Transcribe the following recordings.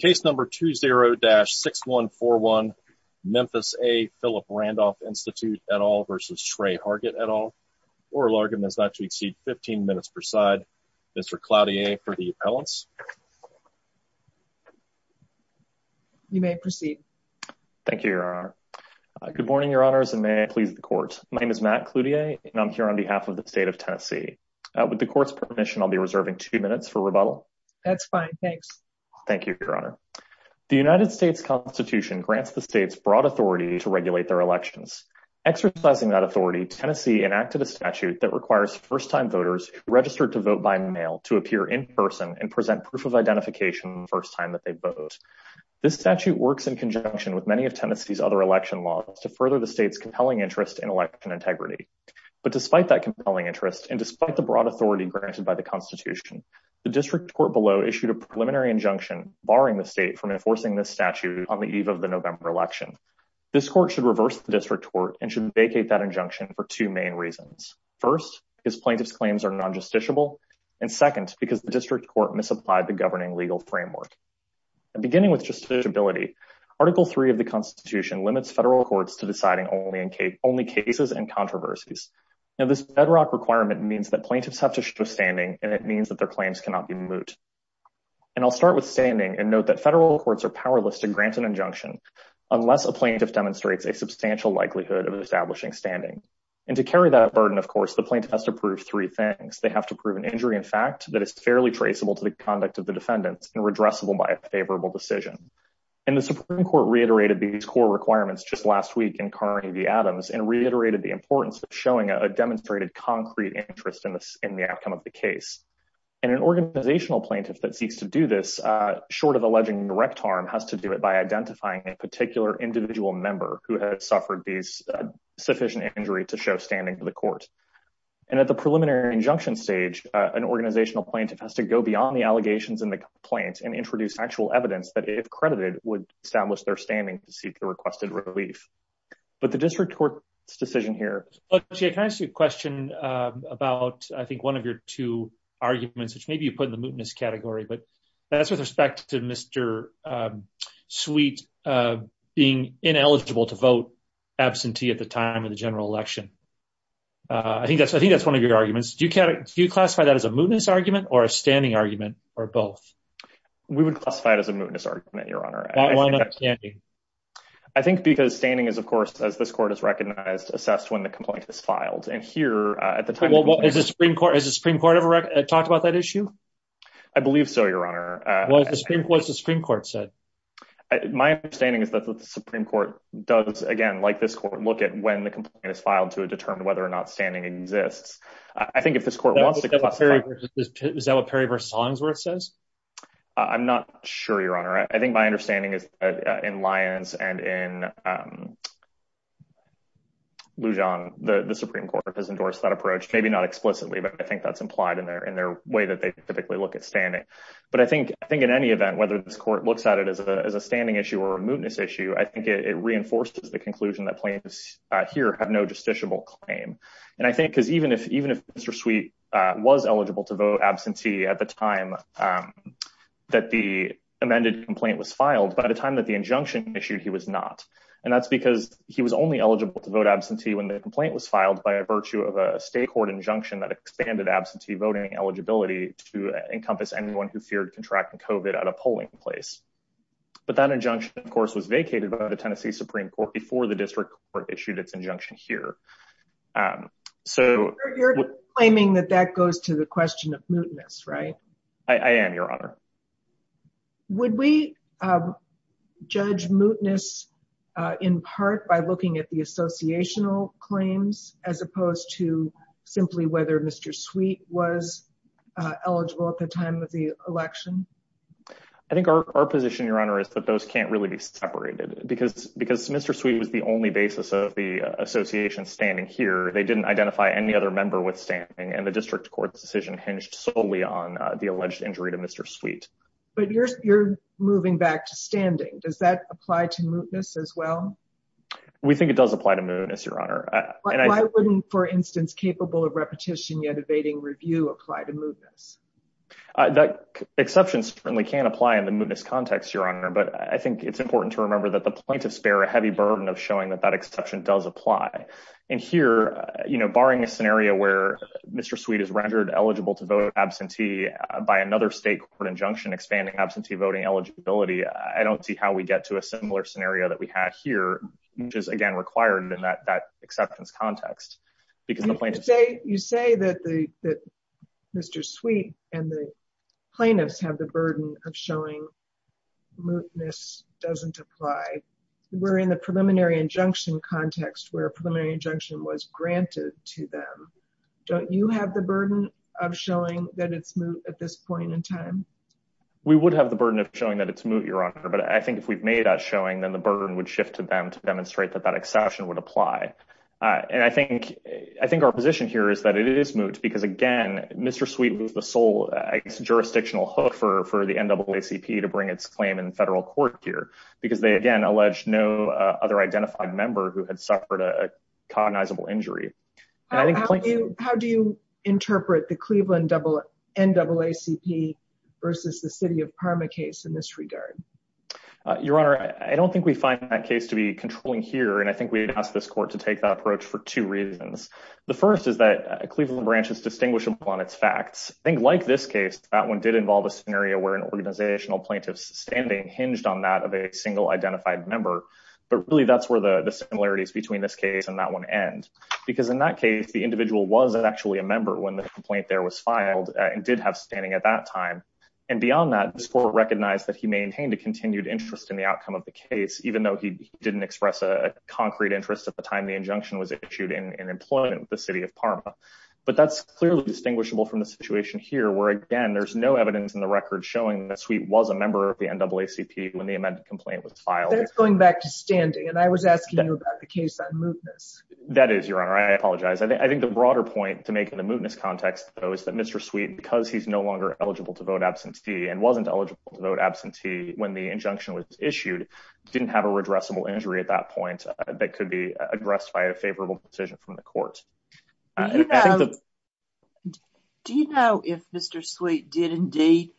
Case number 20-6141 Memphis A Phillip Randolph Institute et al versus Tre Hargett et al. Oral argument is not to exceed 15 minutes per side. Mr. Cloutier for the appellants. You may proceed. Thank you your honor. Good morning your honors and may I please the court. My name is Matt Cloutier and I'm here on behalf of the state of Tennessee. With the court's permission I'll be reserving two minutes for rebuttal. That's fine thanks. Thank you your honor. The United States Constitution grants the state's broad authority to regulate their elections. Exercising that authority Tennessee enacted a statute that requires first-time voters registered to vote by mail to appear in person and present proof of identification the first time that they vote. This statute works in conjunction with many of Tennessee's other election laws to further the state's compelling interest in election integrity. But despite that compelling interest and despite the broad authority granted by the constitution the district court below issued a preliminary injunction barring the state from enforcing this statute on the eve of the November election. This court should reverse the district court and should vacate that injunction for two main reasons. First his plaintiffs claims are non-justiciable and second because the district court misapplied the governing legal framework. Beginning with justiciability article three of the constitution limits federal courts to deciding only in case only cases and controversies. Now this bedrock requirement means that plaintiffs have to show standing and it means that their claims cannot be moot. And I'll start with standing and note that federal courts are powerless to grant an injunction unless a plaintiff demonstrates a substantial likelihood of establishing standing. And to carry that burden of course the plaintiff has to prove three things. They have to prove an injury in fact that is fairly traceable to the conduct of the defendants and redressable by a favorable decision. And the supreme court reiterated these core requirements just last week in Carnegie Adams and reiterated the importance of showing a demonstrated concrete interest in this in the outcome of the case. And an organizational plaintiff that seeks to do this short of alleging direct harm has to do it by identifying a particular individual member who has suffered these sufficient injury to show standing to the court. And at the preliminary injunction stage an organizational plaintiff has to go beyond the allegations in the complaint and introduce factual evidence that if credited would establish their standing to seek the requested relief. But the district court's decision here. Look Jay can I ask you a question about I think one of your two arguments which maybe you put in the mootness category but that's with respect to Mr. Sweet being ineligible to vote absentee at the time of the general election. I think that's I think that's one of your arguments. Do you classify that as a mootness argument or a standing argument or both? We would classify it as a mootness argument your honor. Why not standing? I think because standing is of course as this court has recognized assessed when the complaint is filed. And here at the time. Is the Supreme Court ever talked about that issue? I believe so your honor. What's the Supreme Court said? My understanding is that the Supreme Court does again like this court look at when the complaint is filed to determine whether or not standing exists. I think if this court wants to. Is that what Perry versus Hollingsworth says? I'm not sure your honor. I think my understanding is in Lyons and in. Lujan, the Supreme Court has endorsed that approach, maybe not explicitly, but I think that's implied in their in their way that they typically look at standing. But I think I think in any event, whether this court looks at it as a standing issue or a mootness issue, I think it reinforces the conclusion that plaintiffs here have no justiciable claim. And I think because even if even if Mr. Sweet was eligible to vote absentee at the time that the amended complaint was filed by the time that the injunction issued, he was not. And that's because he was only eligible to vote absentee when the complaint was filed by virtue of a state court injunction that expanded absentee voting eligibility to encompass anyone who feared contracting COVID at a polling place. But that injunction, of course, was vacated by the Tennessee Supreme Court before the district court issued its injunction here. Um, so you're claiming that that goes to the question of mootness, right? I am, Your Honor. Would we judge mootness in part by looking at the associational claims as opposed to simply whether Mr. Sweet was eligible at the time of the election? I think our position, Your Honor, is that those can't really be separated because because Mr. Sweet was the only basis of the association standing here, they didn't identify any other member with standing and the district court's decision hinged solely on the alleged injury to Mr. Sweet. But you're moving back to standing. Does that apply to mootness as well? We think it does apply to mootness, Your Honor. Why wouldn't, for instance, capable of repetition yet evading review apply to mootness? That exception certainly can apply in the mootness context, Your Honor. But I think it's important to remember that the plaintiffs bear a heavy burden of showing that that exception does apply. And here, you know, barring a scenario where Mr. Sweet is rendered eligible to vote absentee by another state court injunction expanding absentee voting eligibility, I don't see how we get to a similar scenario that we have here, which is again required in that acceptance context. Because the plaintiffs say you say that the Mr. Sweet and the plaintiffs have the burden of showing mootness doesn't apply. We're in the preliminary injunction context where a preliminary injunction was granted to them. Don't you have the burden of showing that it's moot at this point in time? We would have the burden of showing that it's moot, Your Honor. But I think if we've made that showing, then the burden would shift to them to demonstrate that that exception would apply. And I think our position here is that it is moot because again, Mr. Sweet was the sole jurisdictional hook for the NAACP to bring its claim in federal court here, because they again alleged no other identified member who had suffered a cognizable injury. How do you interpret the Cleveland NAACP versus the city of Parma case in this regard? Your Honor, I don't think we find that case to be controlling here. And I think we'd ask this court to take that approach for two reasons. The first is that Cleveland branch is distinguishable on its facts. I think like this case, that one did involve a scenario where an organizational plaintiff's standing hinged on that of a single identified member. But really that's where the similarities between this case and that one end. Because in that case, the individual wasn't actually a member when the complaint there was filed and did have standing at that time. And beyond that, this court recognized that he maintained a continued interest in the outcome of the case, even though he didn't express a concrete interest at the time the injunction was issued in employment with the city of Parma. But that's clearly distinguishable from the situation here, where again, there's no evidence in the record showing that Sweet was a member of the NAACP when the amended complaint was filed. That's going back to standing. And I was asking you about the case on mootness. That is, Your Honor. I apologize. I think the broader point to make in the mootness context, though, is that Mr. Sweet, because he's no longer eligible to vote absentee and wasn't eligible to vote absentee when the injunction was issued, didn't have a favorable decision from the court. Do you know if Mr. Sweet did indeed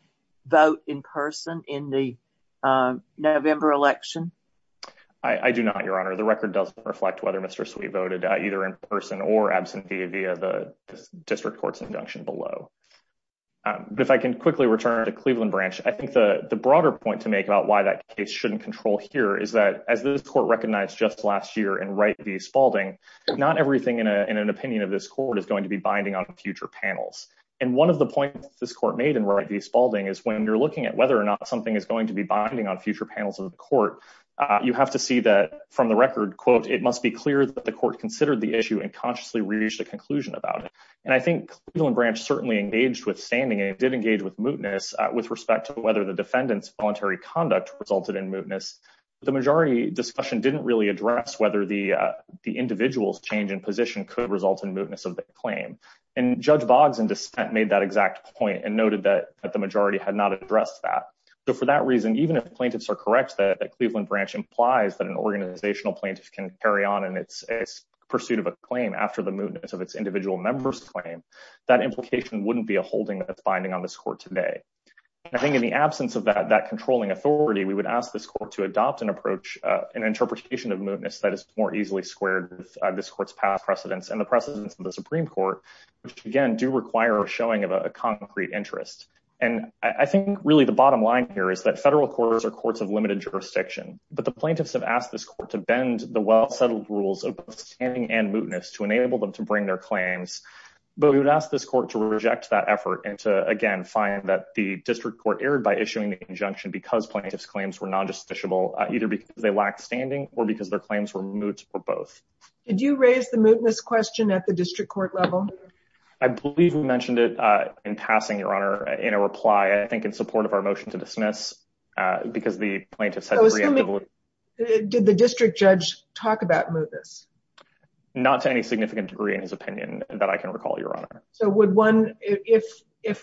vote in person in the November election? I do not, Your Honor. The record doesn't reflect whether Mr. Sweet voted either in person or absentee via the district court's injunction below. But if I can quickly return to Cleveland Branch, I think the broader point to make about why that case shouldn't control here is that as this court recognized just last year in Wright v. Spaulding, not everything in an opinion of this court is going to be binding on future panels. And one of the points this court made in Wright v. Spaulding is when you're looking at whether or not something is going to be binding on future panels of the court, you have to see that from the record, quote, it must be clear that the court considered the issue and consciously reached a conclusion about it. And I think Cleveland Branch certainly engaged with standing and did engage with mootness with respect to whether the defendant's voluntary conduct resulted in mootness. The majority discussion didn't really address whether the individual's change in position could result in mootness of the claim. And Judge Boggs in dissent made that exact point and noted that the majority had not addressed that. So for that reason, even if plaintiffs are correct that Cleveland Branch implies that an organizational plaintiff can carry on in its pursuit of a claim after the mootness of its individual member's claim, that implication wouldn't be a holding that's binding on this today. I think in the absence of that controlling authority, we would ask this court to adopt an approach, an interpretation of mootness that is more easily squared with this court's past precedents and the precedents of the Supreme Court, which again do require a showing of a concrete interest. And I think really the bottom line here is that federal courts are courts of limited jurisdiction, but the plaintiffs have asked this court to bend the well-settled rules of standing and mootness to enable them to bring their claims. But we would ask this court to reject that effort and to, again, find that the district court erred by issuing the injunction because plaintiffs' claims were non-justiciable, either because they lacked standing or because their claims were moot or both. Did you raise the mootness question at the district court level? I believe we mentioned it in passing, Your Honor, in a reply, I think in support of our motion to dismiss, because the plaintiffs had... Did the district judge talk about mootness? Not to any significant degree in his If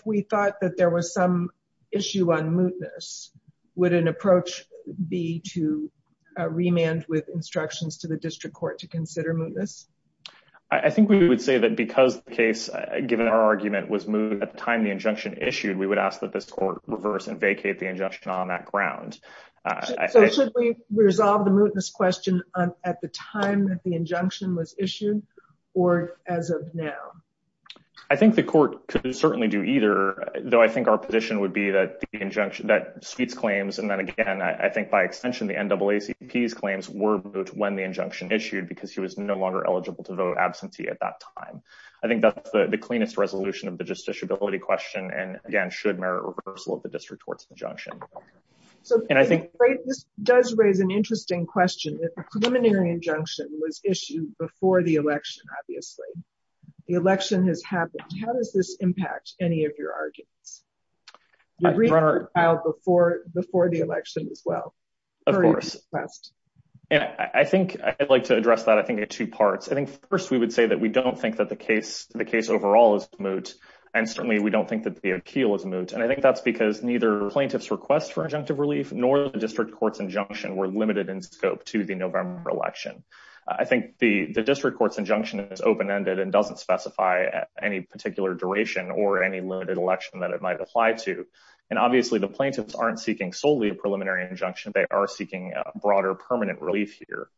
we thought that there was some issue on mootness, would an approach be to remand with instructions to the district court to consider mootness? I think we would say that because the case, given our argument, was moot at the time the injunction issued, we would ask that this court reverse and vacate the injunction on that ground. So should we resolve the mootness question at the time that the injunction was issued or as of now? I think the court could certainly do either, though I think our position would be that the injunction... That Sweet's claims, and then again, I think by extension, the NAACP's claims were moot when the injunction issued because he was no longer eligible to vote absentee at that time. I think that's the cleanest resolution of the justiciability question, and again, should merit reversal of the district court's injunction. So this does raise an interesting question. The preliminary injunction was issued before the election, obviously. The election has happened. How does this impact any of your arguments? You reached out before the election as well. Of course, and I think I'd like to address that, I think, in two parts. I think first, we would say that we don't think that the case overall is moot, and certainly we don't think that the appeal is moot, and I think that's because neither plaintiff's request for injunctive relief nor the district court's injunction were limited in scope to the November election. I think the district court's injunction is open-ended and doesn't specify any particular duration or any limited election that it might apply to, and obviously, the plaintiffs aren't seeking solely a preliminary injunction. They are seeking broader permanent relief here.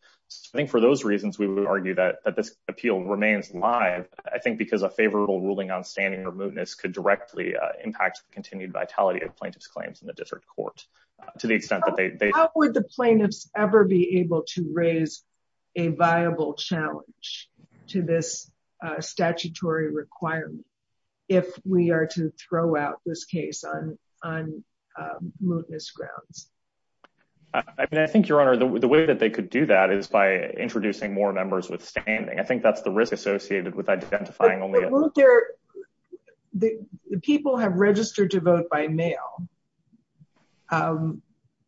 I think for those reasons, we would argue that this appeal remains live, I think, because a favorable ruling on standing or mootness could directly impact the continued vitality of the case. I think the district court is not able to raise a viable challenge to this statutory requirement if we are to throw out this case on mootness grounds. I mean, I think, Your Honor, the way that they could do that is by introducing more members with standing. I think that's the risk associated with identifying only— But won't there—the people have registered to vote by mail.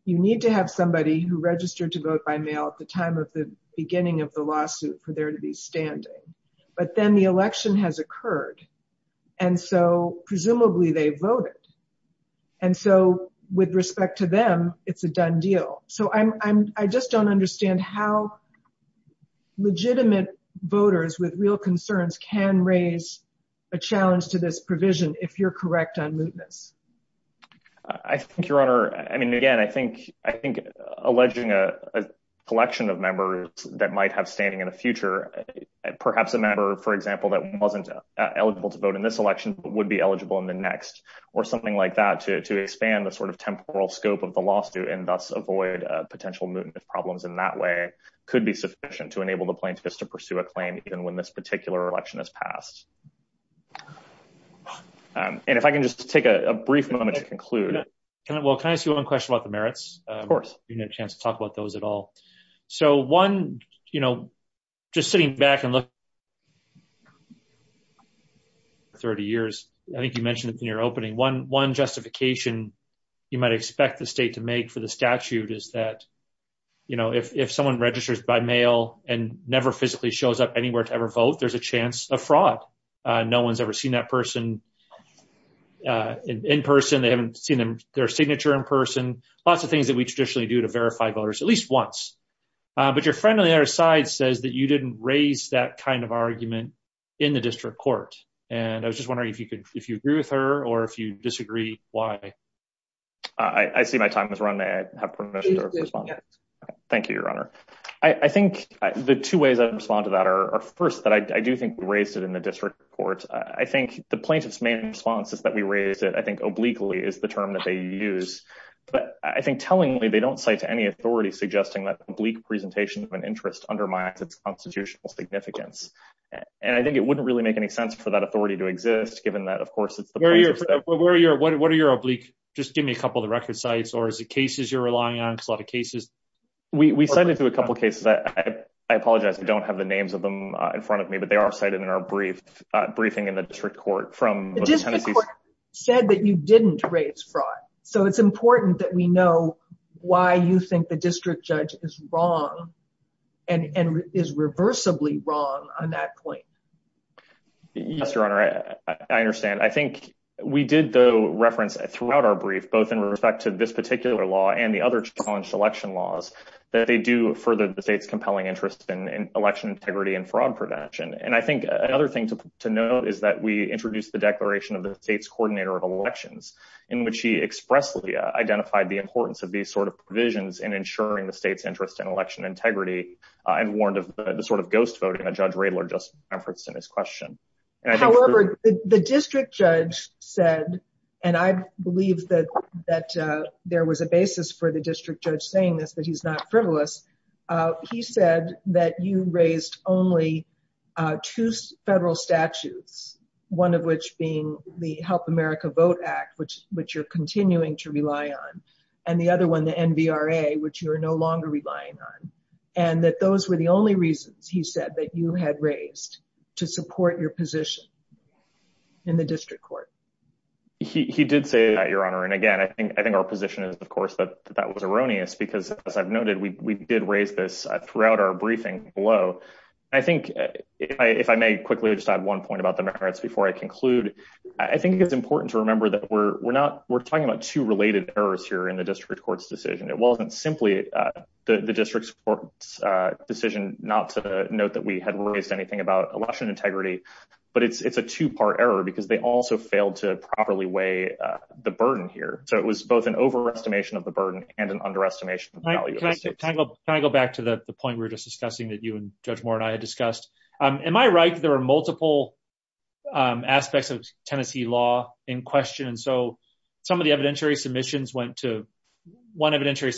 You need to have somebody who registered to vote by mail at the time of the beginning of the lawsuit for there to be standing, but then the election has occurred, and so, presumably, they voted, and so, with respect to them, it's a done deal. So, I just don't understand how legitimate voters with real concerns can raise a challenge to this provision if you're correct on mootness. I think, Your Honor, I mean, again, I think alleging a collection of members that might have standing in the future, perhaps a member, for example, that wasn't eligible to vote in this election but would be eligible in the next or something like that to expand the sort of temporal scope of the lawsuit and thus avoid potential mootness problems in that way could be sufficient to enable the plaintiffs to pursue a claim even when this particular election has passed. And if I can just take a brief moment to conclude— Well, can I ask you one question about the merits? Of course. You didn't have a chance to talk about those at all. So, one, you know, just sitting back and look— 30 years. I think you mentioned it in your opening. One justification you might expect the state to make for the statute is that, you know, if someone registers by mail and never physically shows up anywhere to ever vote, there's a chance of fraud. No one's ever seen that person in person. They haven't seen their signature in person. Lots of things that we traditionally do to verify voters, at least once. But your friend on the other side says that you didn't raise that kind of argument in the district court. And I was just wondering if you agree with her or if you disagree, why? I see my time has run. May I have permission to respond? Please do. Thank you, Your Honor. I think the two ways I'd respond to that are, first, that I do think we raised it in the district court. I think the plaintiff's main response is that we raised it, I think, obliquely, is the term that they use. But I think, tellingly, they don't cite to any authority suggesting that oblique presentation of an interest undermines its constitutional significance. And I think it wouldn't really make any sense for that authority to exist, given that, of course, it's the plaintiff's— Where are your— what are your oblique— just give me a couple of the record sites, or is it cases you're relying on? Because a lot of cases— We cited a couple of cases. I apologize. I don't have the names of them in front of me, but they are cited in our briefing in the district court from— The district court said that you didn't raise fraud. So it's important that we know why you think the district judge is wrong and is reversibly wrong on that point. Yes, Your Honor. I understand. I think we did, though, reference throughout our brief, both in respect to this particular law and the other challenged election laws, that they do further the state's compelling interest in election integrity and fraud protection. And I think another thing to note is that we introduced the Declaration of the State's Coordinator of Elections, in which he expressly identified the importance of these sort of provisions in ensuring the state's interest in election integrity, and warned of the sort of ghost voting that Judge Radler just referenced in his question. However, the district judge said—and I believe that there was a basis for the district judge saying this, but he's not frivolous—he said that you raised only two federal statutes, one of which being the Help America Vote Act, which you're continuing to rely on, and the other one, the NVRA, which you are no longer relying on, and that those were the only reasons, he said, that you had raised to support your position in the district court. He did say that, Your Honor. And again, I think our position is, of course, that that was erroneous, because, as I've noted, we did raise this throughout our briefing below. I think, if I may quickly just add one point about the merits before I conclude, I think it's important to remember that we're talking about two related errors here in the district court's decision. It note that we had raised anything about election integrity, but it's a two-part error, because they also failed to properly weigh the burden here. So it was both an overestimation of the burden and an underestimation of the value of the state. Can I go back to the point we were just discussing that you and Judge Moore and I had discussed? Am I right that there are multiple aspects of Tennessee law in question, and so some of the evidentiary submissions went to—one evidentiary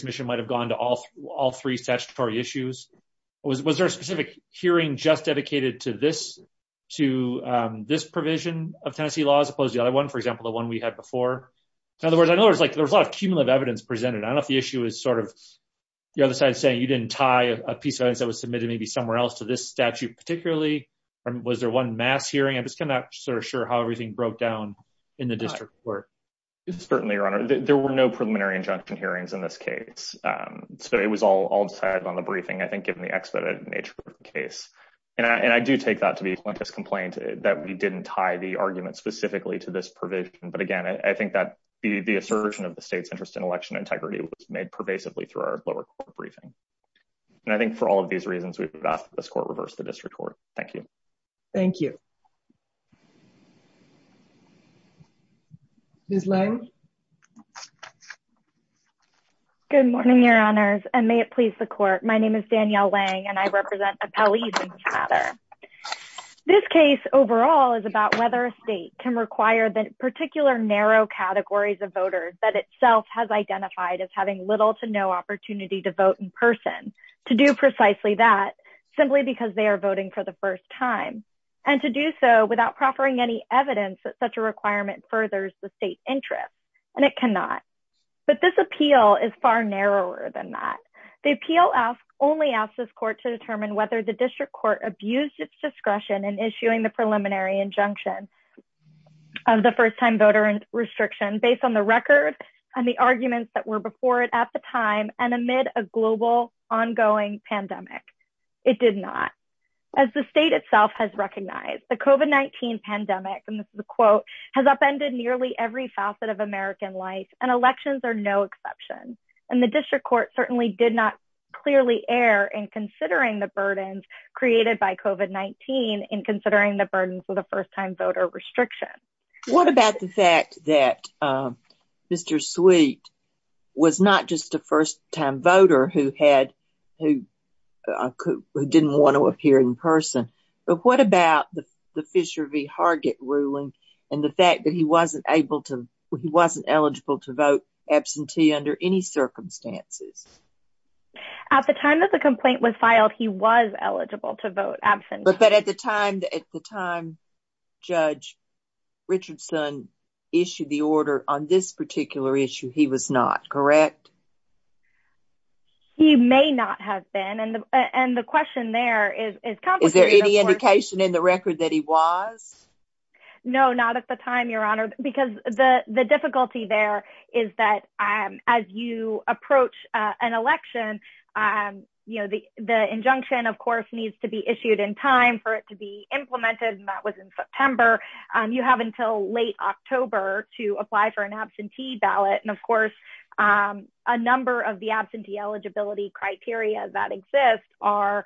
hearing just dedicated to this provision of Tennessee law as opposed to the other one, for example, the one we had before? In other words, I know there was a lot of cumulative evidence presented. I don't know if the issue is sort of the other side saying you didn't tie a piece of evidence that was submitted maybe somewhere else to this statute particularly, or was there one mass hearing? I'm just kind of not sure how everything broke down in the district court. Certainly, Your Honor. There were no preliminary injunction hearings in this case. So it was all decided on the briefing, I think, given the expedited nature of the case. And I do take that to be a plaintiff's complaint that we didn't tie the argument specifically to this provision. But again, I think that the assertion of the state's interest in election integrity was made pervasively through our lower court briefing. And I think for all of these reasons, we've asked that this court reverse the district court. Thank you. Thank you. Ms. Lange? Good morning, Your Honors, and may it please the court. My name is Danielle Lange, and I represent Appellees and Chatter. This case overall is about whether a state can require the particular narrow categories of voters that itself has identified as having little to no opportunity to vote in person to do precisely that, simply because they are voting for the first time, and to do so without proffering any evidence that such a requirement furthers the state interest. And it cannot. But this appeal is far narrower than that. The appeal only asks this court to determine whether the district court abused its discretion in issuing the preliminary injunction of the first-time voter restriction based on the record and the arguments that were before it at the time, and amid a global, ongoing pandemic. It did not. As the state itself has recognized, the COVID-19 pandemic, and this is a quote, has upended nearly every facet of American life, and elections are no exception. And the district court certainly did not clearly err in considering the burdens created by COVID-19 in considering the burdens of the restriction. What about the fact that Mr. Sweet was not just a first-time voter who had, who didn't want to appear in person, but what about the Fisher v. Hargett ruling, and the fact that he wasn't able to, he wasn't eligible to vote absentee under any circumstances? At the time that the complaint was filed, he was eligible to vote absent. But at the time, at the time, Judge Richardson issued the order on this particular issue, he was not, correct? He may not have been, and the question there is complicated. Is there any indication in the record that he was? No, not at the time, Your Honor, because the difficulty there is that as you approach an implementation, and that was in September, you have until late October to apply for an absentee ballot. And of course, a number of the absentee eligibility criteria that exist are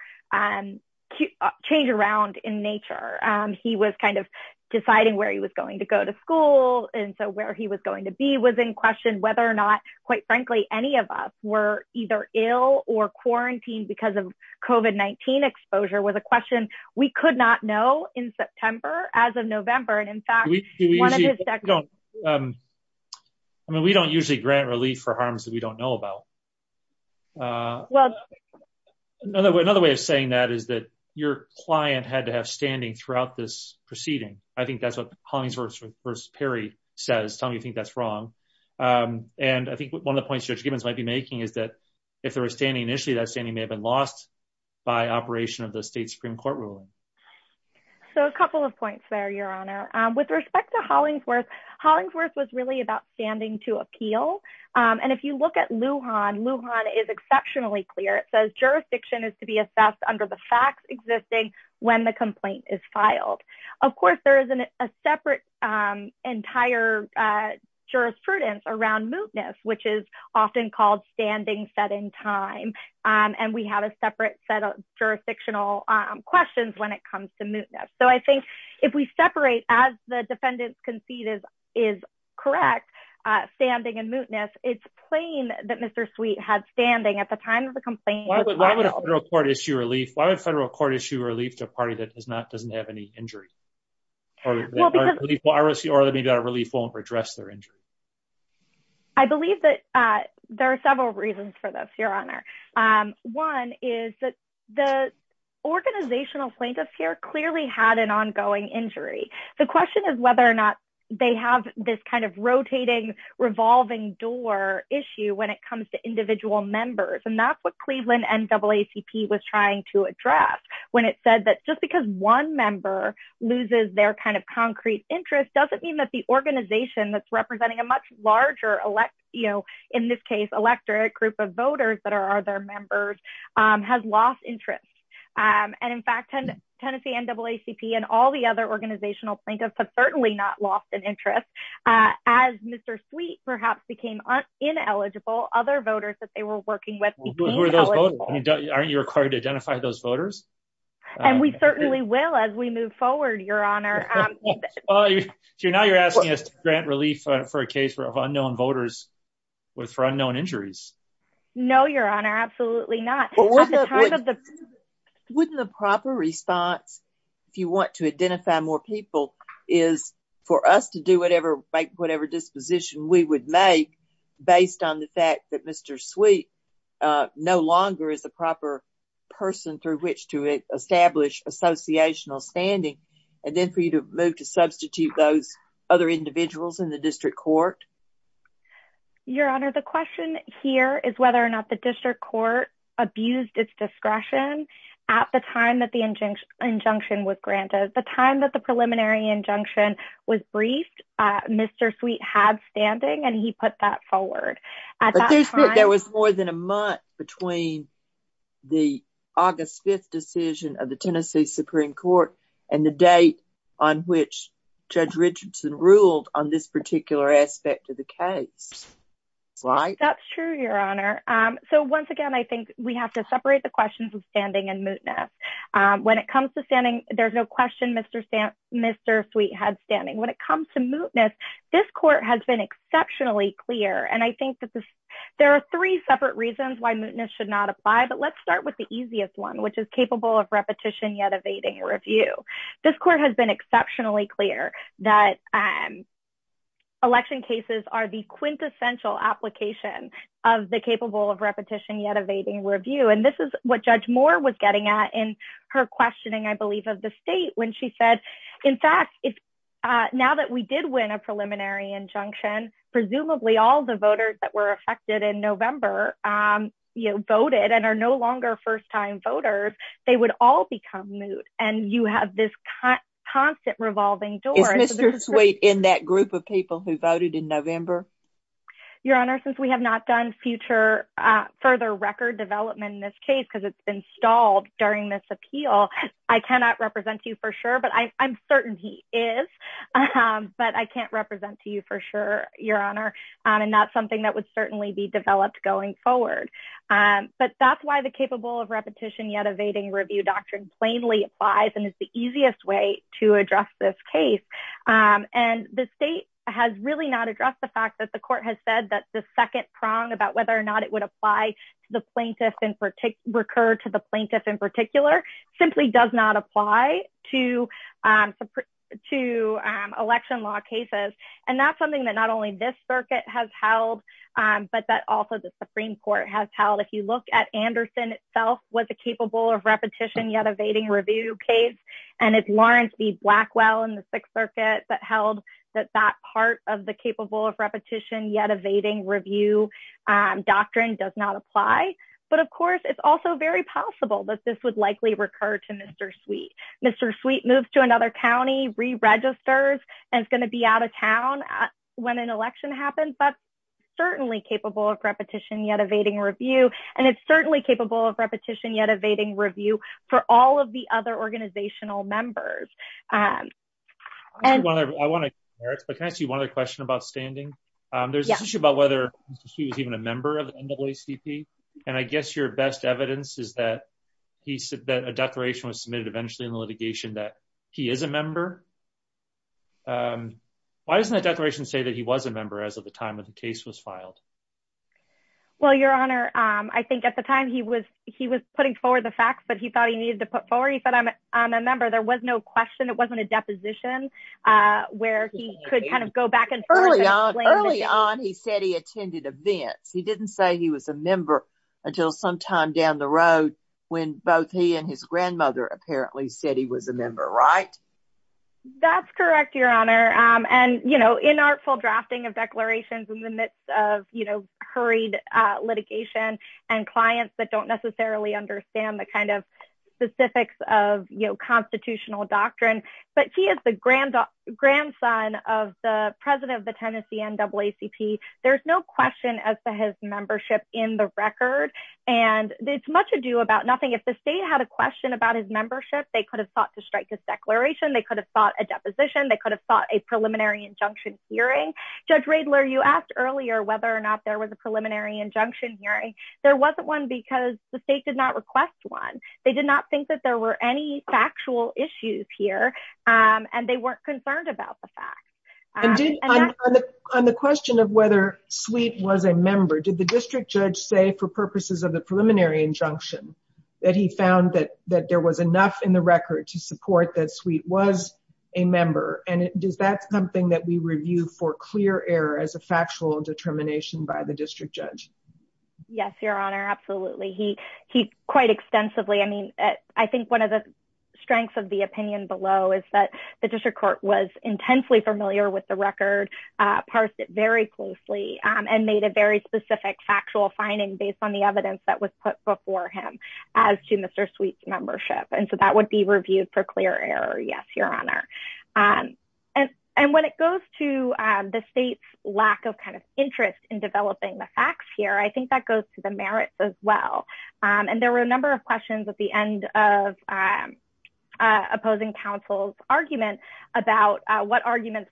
change around in nature. He was kind of deciding where he was going to go to school, and so where he was going to be was in question, whether or not, quite frankly, any of us were either ill or quarantined because of COVID-19 exposure was a question we could not know in September, as of November. And in fact, one of his... I mean, we don't usually grant relief for harms that we don't know about. Another way of saying that is that your client had to have standing throughout this proceeding. I think that's what Hollingsworth v. Perry says, tell me if you think that's wrong. And I think one of the points Judge Gibbons might be making is that if there was standing initially, that standing may have been lost by operation of the state Supreme Court ruling. So a couple of points there, Your Honor. With respect to Hollingsworth, Hollingsworth was really about standing to appeal. And if you look at Lujan, Lujan is exceptionally clear. It says jurisdiction is to be assessed under the facts existing when the complaint is filed. Of course, there is a separate entire jurisprudence around mootness, which is often called standing set in time. And we have a separate set of jurisdictional questions when it comes to mootness. So I think if we separate as the defendant's conceited is correct, standing and mootness, it's plain that Mr. Sweet had standing at the time of the Why would a federal court issue relief to a party that doesn't have any injury? I believe that there are several reasons for this, Your Honor. One is that the organizational plaintiffs here clearly had an ongoing injury. The question is whether or not they have this rotating, revolving door issue when it comes to individual members. And that's what Cleveland NAACP was trying to address when it said that just because one member loses their concrete interest doesn't mean that the organization that's representing a much larger, in this case, electorate group of voters that are their members has lost interest. And in fact, Tennessee NAACP and all the other organizational plaintiffs have certainly not lost an interest. As Mr. Sweet perhaps became ineligible, other voters that they were working with. Aren't you required to identify those voters? And we certainly will as we move forward, Your Honor. So now you're asking us to grant relief for a case of unknown voters for unknown injuries? No, Your Honor, absolutely not. Wouldn't the proper response, if you want to identify more people, is for us to do whatever disposition we would make based on the fact that Mr. Sweet no longer is the proper person through which to establish associational standing and then for you to move to substitute those other individuals in the district court? Your Honor, the question here is whether or not the discretion at the time that the injunction was granted, the time that the preliminary injunction was briefed, Mr. Sweet had standing and he put that forward. There was more than a month between the August 5th decision of the Tennessee Supreme Court and the date on which Judge Richardson ruled on this particular aspect of the case, right? That's true, Your Honor. So once again, we have to separate the questions of standing and mootness. When it comes to standing, there's no question Mr. Sweet had standing. When it comes to mootness, this court has been exceptionally clear and I think that there are three separate reasons why mootness should not apply, but let's start with the easiest one, which is capable of repetition yet evading review. This court has been exceptionally clear that election cases are the quintessential application of the capable of repetition yet evading review and this is what Judge Moore was getting at in her questioning, I believe, of the state when she said, in fact, now that we did win a preliminary injunction, presumably all the voters that were affected in November, you know, voted and are no longer first-time voters, they would all become moot and you have this constant revolving door. Is Mr. Sweet in that group of people who voted in November? Your Honor, since we have not done future further record development in this case because it's been stalled during this appeal, I cannot represent you for sure, but I'm certain he is, but I can't represent to you for sure, Your Honor, and not something that would certainly be developed going forward, but that's why the capable of repetition yet evading review doctrine plainly applies and is the easiest way to address this case and the state has really not addressed the fact that the court has said that the second prong about whether or not it would apply to the plaintiff in particular, recur to the plaintiff in particular, simply does not apply to election law cases and that's something that not only this circuit has held, but that also the Supreme Court has held. If you look at Anderson itself was a capable of repetition yet evading review case and it's Lawrence v. Blackwell in the Sixth Circuit that held that that part of the capable of repetition yet evading review doctrine does not apply, but of course it's also very possible that this would likely recur to Mr. Sweet. Mr. Sweet moves to another county, re-registers, and is going to be out of town when an election happens, but certainly capable of repetition yet evading review and it's certainly capable of repetition yet evading review for all of the other organizational members. Can I ask you one other question about standing? There's an issue about whether he was even a member of the NAACP and I guess your best evidence is that a declaration was submitted eventually in the litigation that he is a member. Why doesn't the declaration say that he was a member as of the time that the case was filed? Well, your honor, I think at the time he was putting forward the facts, but he thought he needed to put forward. He said, I'm a member. There was no question. It wasn't a deposition where he could kind of go back and early on. Early on, he said he attended events. He didn't say he was a member until sometime down the road when both he and his grandmother apparently said he was a member, right? That's correct, your honor, and you know, inartful drafting of declarations in the midst of, you know, hurried litigation and clients that don't necessarily understand the kind of specifics of, you know, constitutional doctrine, but he is the grandson of the president of the Tennessee NAACP. There's no question as to his membership in the record and it's much ado about nothing. If the state had a question about his membership, they could have sought to strike this declaration. They could have sought a deposition. They could have sought a preliminary injunction hearing. Judge Riedler, you asked earlier whether or not there was a preliminary injunction hearing. There wasn't one because the state did not request one. They did not think that there were any factual issues here and they weren't concerned about the facts. On the question of whether Sweet was a member, did the district judge say for purposes of the preliminary injunction that he found that there was enough in the record to support that Sweet was a member? And is that something that we review for clear error as a factual determination by the district judge? Yes, Your Honor. Absolutely. He quite extensively, I mean, I think one of the strengths of the opinion below is that the district court was intensely familiar with the record, parsed it very closely, and made a very specific factual finding based on the evidence that was put before him as to Mr. Sweet's membership. And so that would be reviewed for clear error. Yes, Your Honor. And when it goes to the state's lack of interest in developing the facts here, I think that goes to the merits as well. And there were a number of questions at the end of opposing counsel's argument about what arguments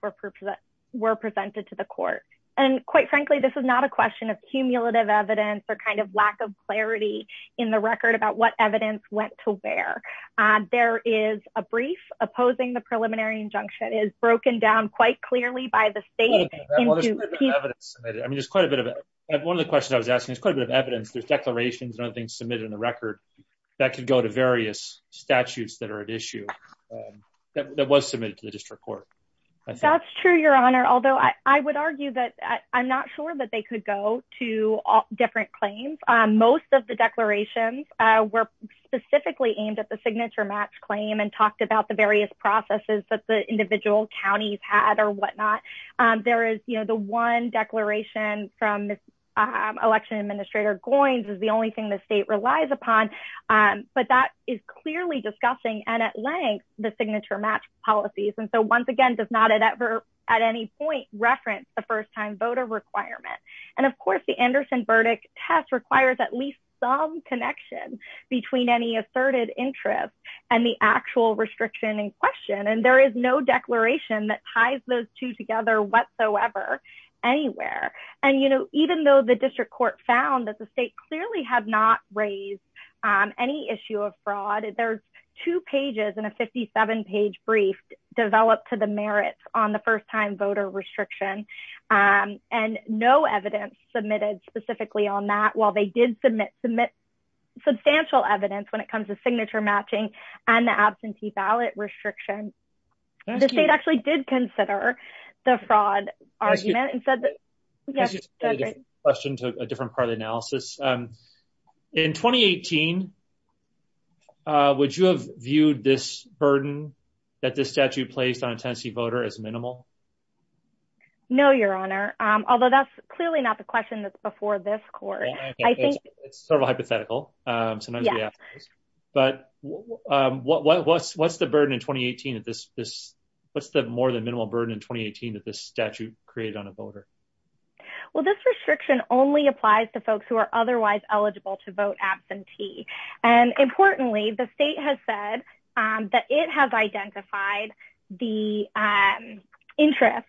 were presented to the court. And quite frankly, this is not a question of cumulative evidence or lack of clarity in the record about what evidence went to where there is a brief opposing the preliminary injunction is broken down quite clearly by the state. I mean, there's quite a bit of one of the questions I was asking is quite a bit of evidence, there's declarations and other things submitted in the record that could go to various statutes that are at issue that was submitted to the district court. That's true, Your Honor, although I would argue that I'm not sure that they could go to different claims. Most of the declarations were specifically aimed at the signature match claim and talked about the various processes that the individual counties had or whatnot. There is, you know, the one declaration from election administrator coins is the only thing the state relies upon. But that is clearly discussing and at length, the signature match policies. And so once again, does not ever, at any point reference the first time voter requirement. And of course, the Anderson verdict test requires at least some connection between any asserted interest and the actual restriction in question. And there is no declaration that ties those two together whatsoever, anywhere. And, you know, even though the district court found that the state clearly have not raised any issue of fraud, there's two pages and a 57 page brief developed to the merits on the while they did submit, submit substantial evidence when it comes to signature matching and the absentee ballot restriction. The state actually did consider the fraud argument and said question to a different part of the analysis. In 2018, would you have viewed this burden that the statute placed on a Tennessee voter as minimal? No, Your Honor. Although that's clearly not the question that's before this court. I think it's sort of a hypothetical. But what's what's the burden in 2018 at this? This? What's the more than minimal burden in 2018 that this statute created on a voter? Well, this restriction only applies to folks who are otherwise eligible to vote absentee. And importantly, the state has said that it has identified the interest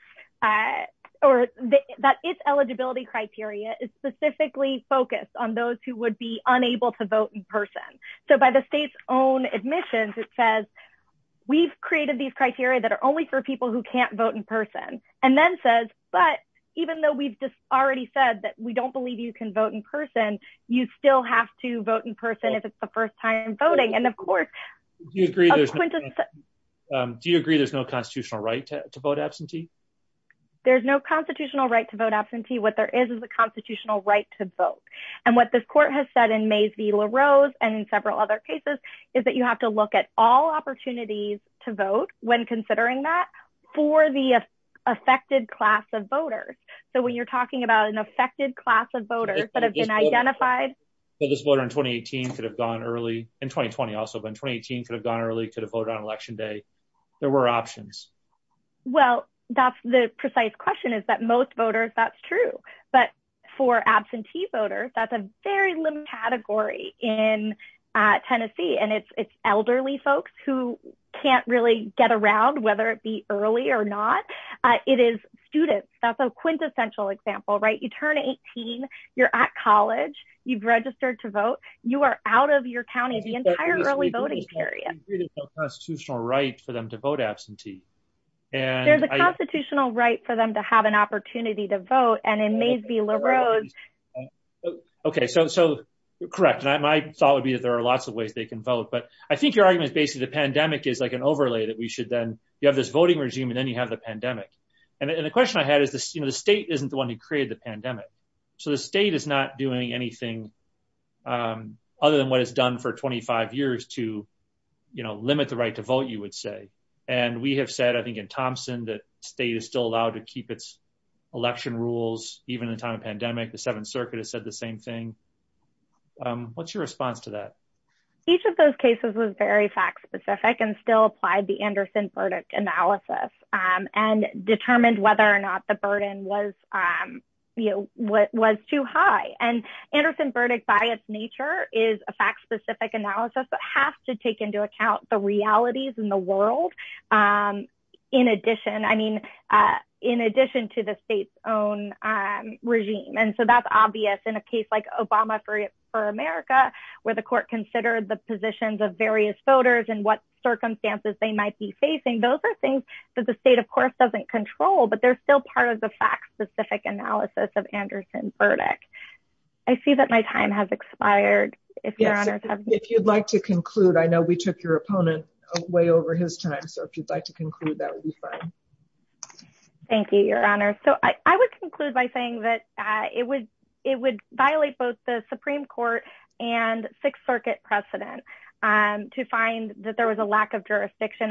or that its eligibility criteria is specifically focused on those who would be unable to vote in person. So by the state's own admissions, it says, we've created these criteria that are only for people who can't vote in person, and then says, but even though we've just already said that we don't believe you can vote in person, you still have to vote in person if it's the first time voting. And of course, do you agree there's no constitutional right to vote absentee? There's no constitutional right to vote absentee. What there is is a constitutional right to vote. And what this court has said in Mays v. LaRose, and in several other cases, is that you have to look at all opportunities to vote when considering that for the affected class of voters. So when you're identifying voters that have been identified... So this voter in 2018 could have gone early, in 2020 also, but 2018 could have gone early, could have voted on election day. There were options. Well, that's the precise question is that most voters, that's true. But for absentee voters, that's a very limited category in Tennessee. And it's elderly folks who can't really get around, whether it be early or not. It is students. That's a quintessential example, right? You turn 18, you're at college, you've registered to vote, you are out of your county the entire early voting period. There's no constitutional right for them to vote absentee. There's a constitutional right for them to have an opportunity to vote, and in Mays v. LaRose... Okay, so correct. And my thought would be that there are lots of ways they can vote. But I think your argument is basically the pandemic is like an overlay that we should then... You have this voting regime, and then you have the pandemic. And the question I had is the state isn't the pandemic. So the state is not doing anything other than what it's done for 25 years to limit the right to vote, you would say. And we have said, I think in Thompson, that state is still allowed to keep its election rules, even in a time of pandemic. The Seventh Circuit has said the same thing. What's your response to that? Each of those cases was very fact specific and still applied the Anderson verdict analysis and determined whether or not the burden was too high. And Anderson verdict by its nature is a fact specific analysis that has to take into account the realities in the world in addition to the state's own regime. And so that's obvious in a case like Obama for America, where the court considered the positions of various voters and what circumstances they might be facing. Those are things that the state, of course, doesn't control, but they're still part of the fact specific analysis of Anderson verdict. I see that my time has expired. If you'd like to conclude, I know we took your opponent way over his time. So if you'd like to conclude that would be fine. Thank you, Your Honor. So I would conclude by saying that it would violate both the Supreme Court and Sixth Circuit precedent to find that there was a lack of time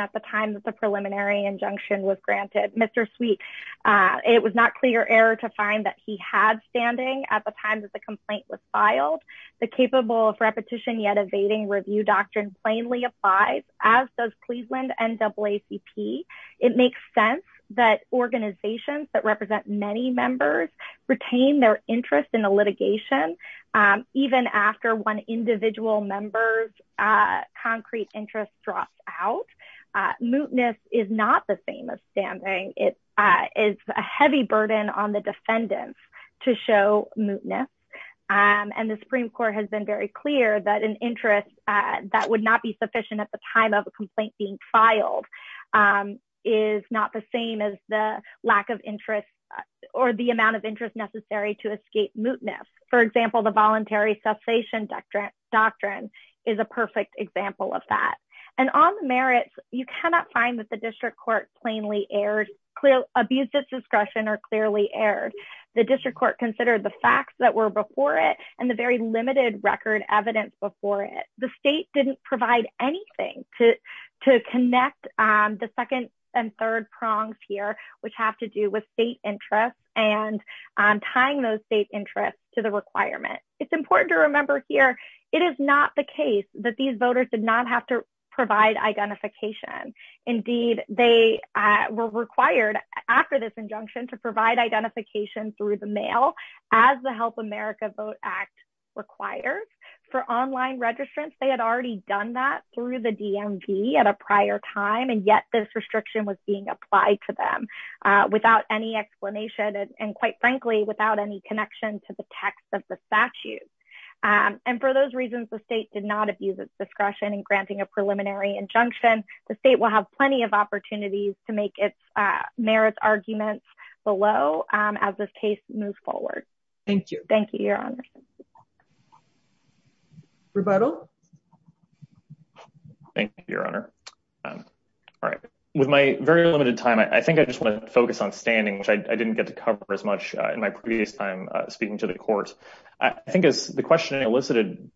that the preliminary injunction was granted. Mr. Sweet, it was not clear error to find that he had standing at the time that the complaint was filed. The capable of repetition yet evading review doctrine plainly applies, as does Cleveland NAACP. It makes sense that organizations that represent many members retain their interest in the litigation, even after one individual member's mootness is not the same as standing. It is a heavy burden on the defendants to show mootness. And the Supreme Court has been very clear that an interest that would not be sufficient at the time of a complaint being filed is not the same as the lack of interest or the amount of interest necessary to escape mootness. For example, the voluntary cessation doctrine is a perfect example of that. And on the merits, you cannot find that the district court plainly aired clear abuses discretion or clearly aired. The district court considered the facts that were before it and the very limited record evidence before it. The state didn't provide anything to connect the second and third prongs here, which have to do with state interests and tying those state to the requirement. It's important to remember here, it is not the case that these voters did not have to provide identification. Indeed, they were required after this injunction to provide identification through the mail as the Help America Vote Act requires. For online registrants, they had already done that through the DMV at a prior time. And yet this restriction was being the text of the statute. And for those reasons, the state did not abuse its discretion in granting a preliminary injunction, the state will have plenty of opportunities to make its merits arguments below as this case moves forward. Thank you. Thank you, Your Honor. Rebuttal. Thank you, Your Honor. All right. With my very limited time, I think I just want to focus on which I didn't get to cover as much in my previous time speaking to the court. I think as the question elicited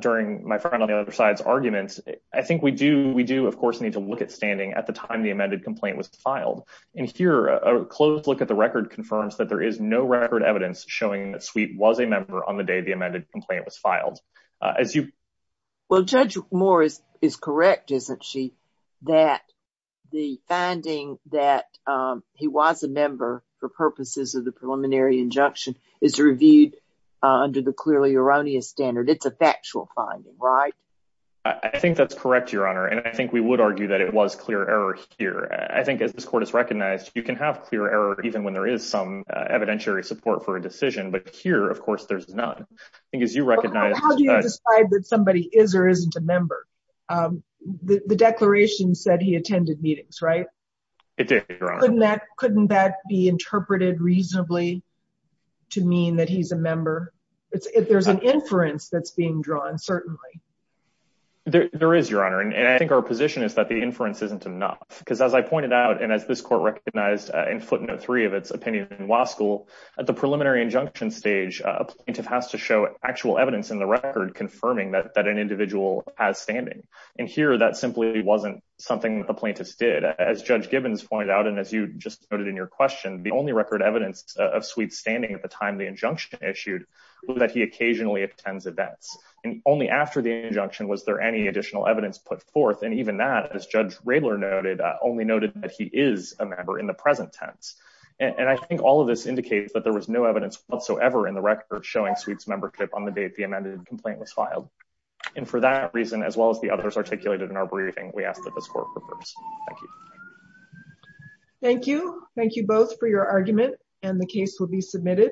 during my friend on the other side's arguments, I think we do, we do, of course, need to look at standing at the time the amended complaint was filed. And here, a close look at the record confirms that there is no record evidence showing that Sweet was a member on the day the amended complaint was filed. As you... Well, Judge Moore is correct, isn't she? That the finding that he was a member for purposes of the preliminary injunction is reviewed under the clearly erroneous standard. It's a factual finding, right? I think that's correct, Your Honor. And I think we would argue that it was clear error here. I think as this court has recognized, you can have clear error even when there is some evidentiary support for a decision. But here, of course, there's none. I think as you decide that somebody is or isn't a member, the declaration said he attended meetings, right? It did, Your Honor. Couldn't that be interpreted reasonably to mean that he's a member? If there's an inference that's being drawn, certainly. There is, Your Honor. And I think our position is that the inference isn't enough. Because as I pointed out, and as this court recognized in footnote three of its opinion in Waskill, at the preliminary injunction stage, a plaintiff has to show actual evidence in the record confirming that an individual has standing. And here, that simply wasn't something the plaintiffs did. As Judge Gibbons pointed out, and as you just noted in your question, the only record evidence of Sweet's standing at the time the injunction issued was that he occasionally attends events. And only after the injunction was there any additional evidence put forth. And even that, as Judge Radler noted, only noted that he is a member in the present tense. And I think all of this indicates that there was no evidence whatsoever in the record showing Sweet's membership on the date the amended complaint was filed. And for that reason, as well as the others articulated in our briefing, we ask that this court prefers. Thank you. Thank you. Thank you both for your argument. And the case will be submitted.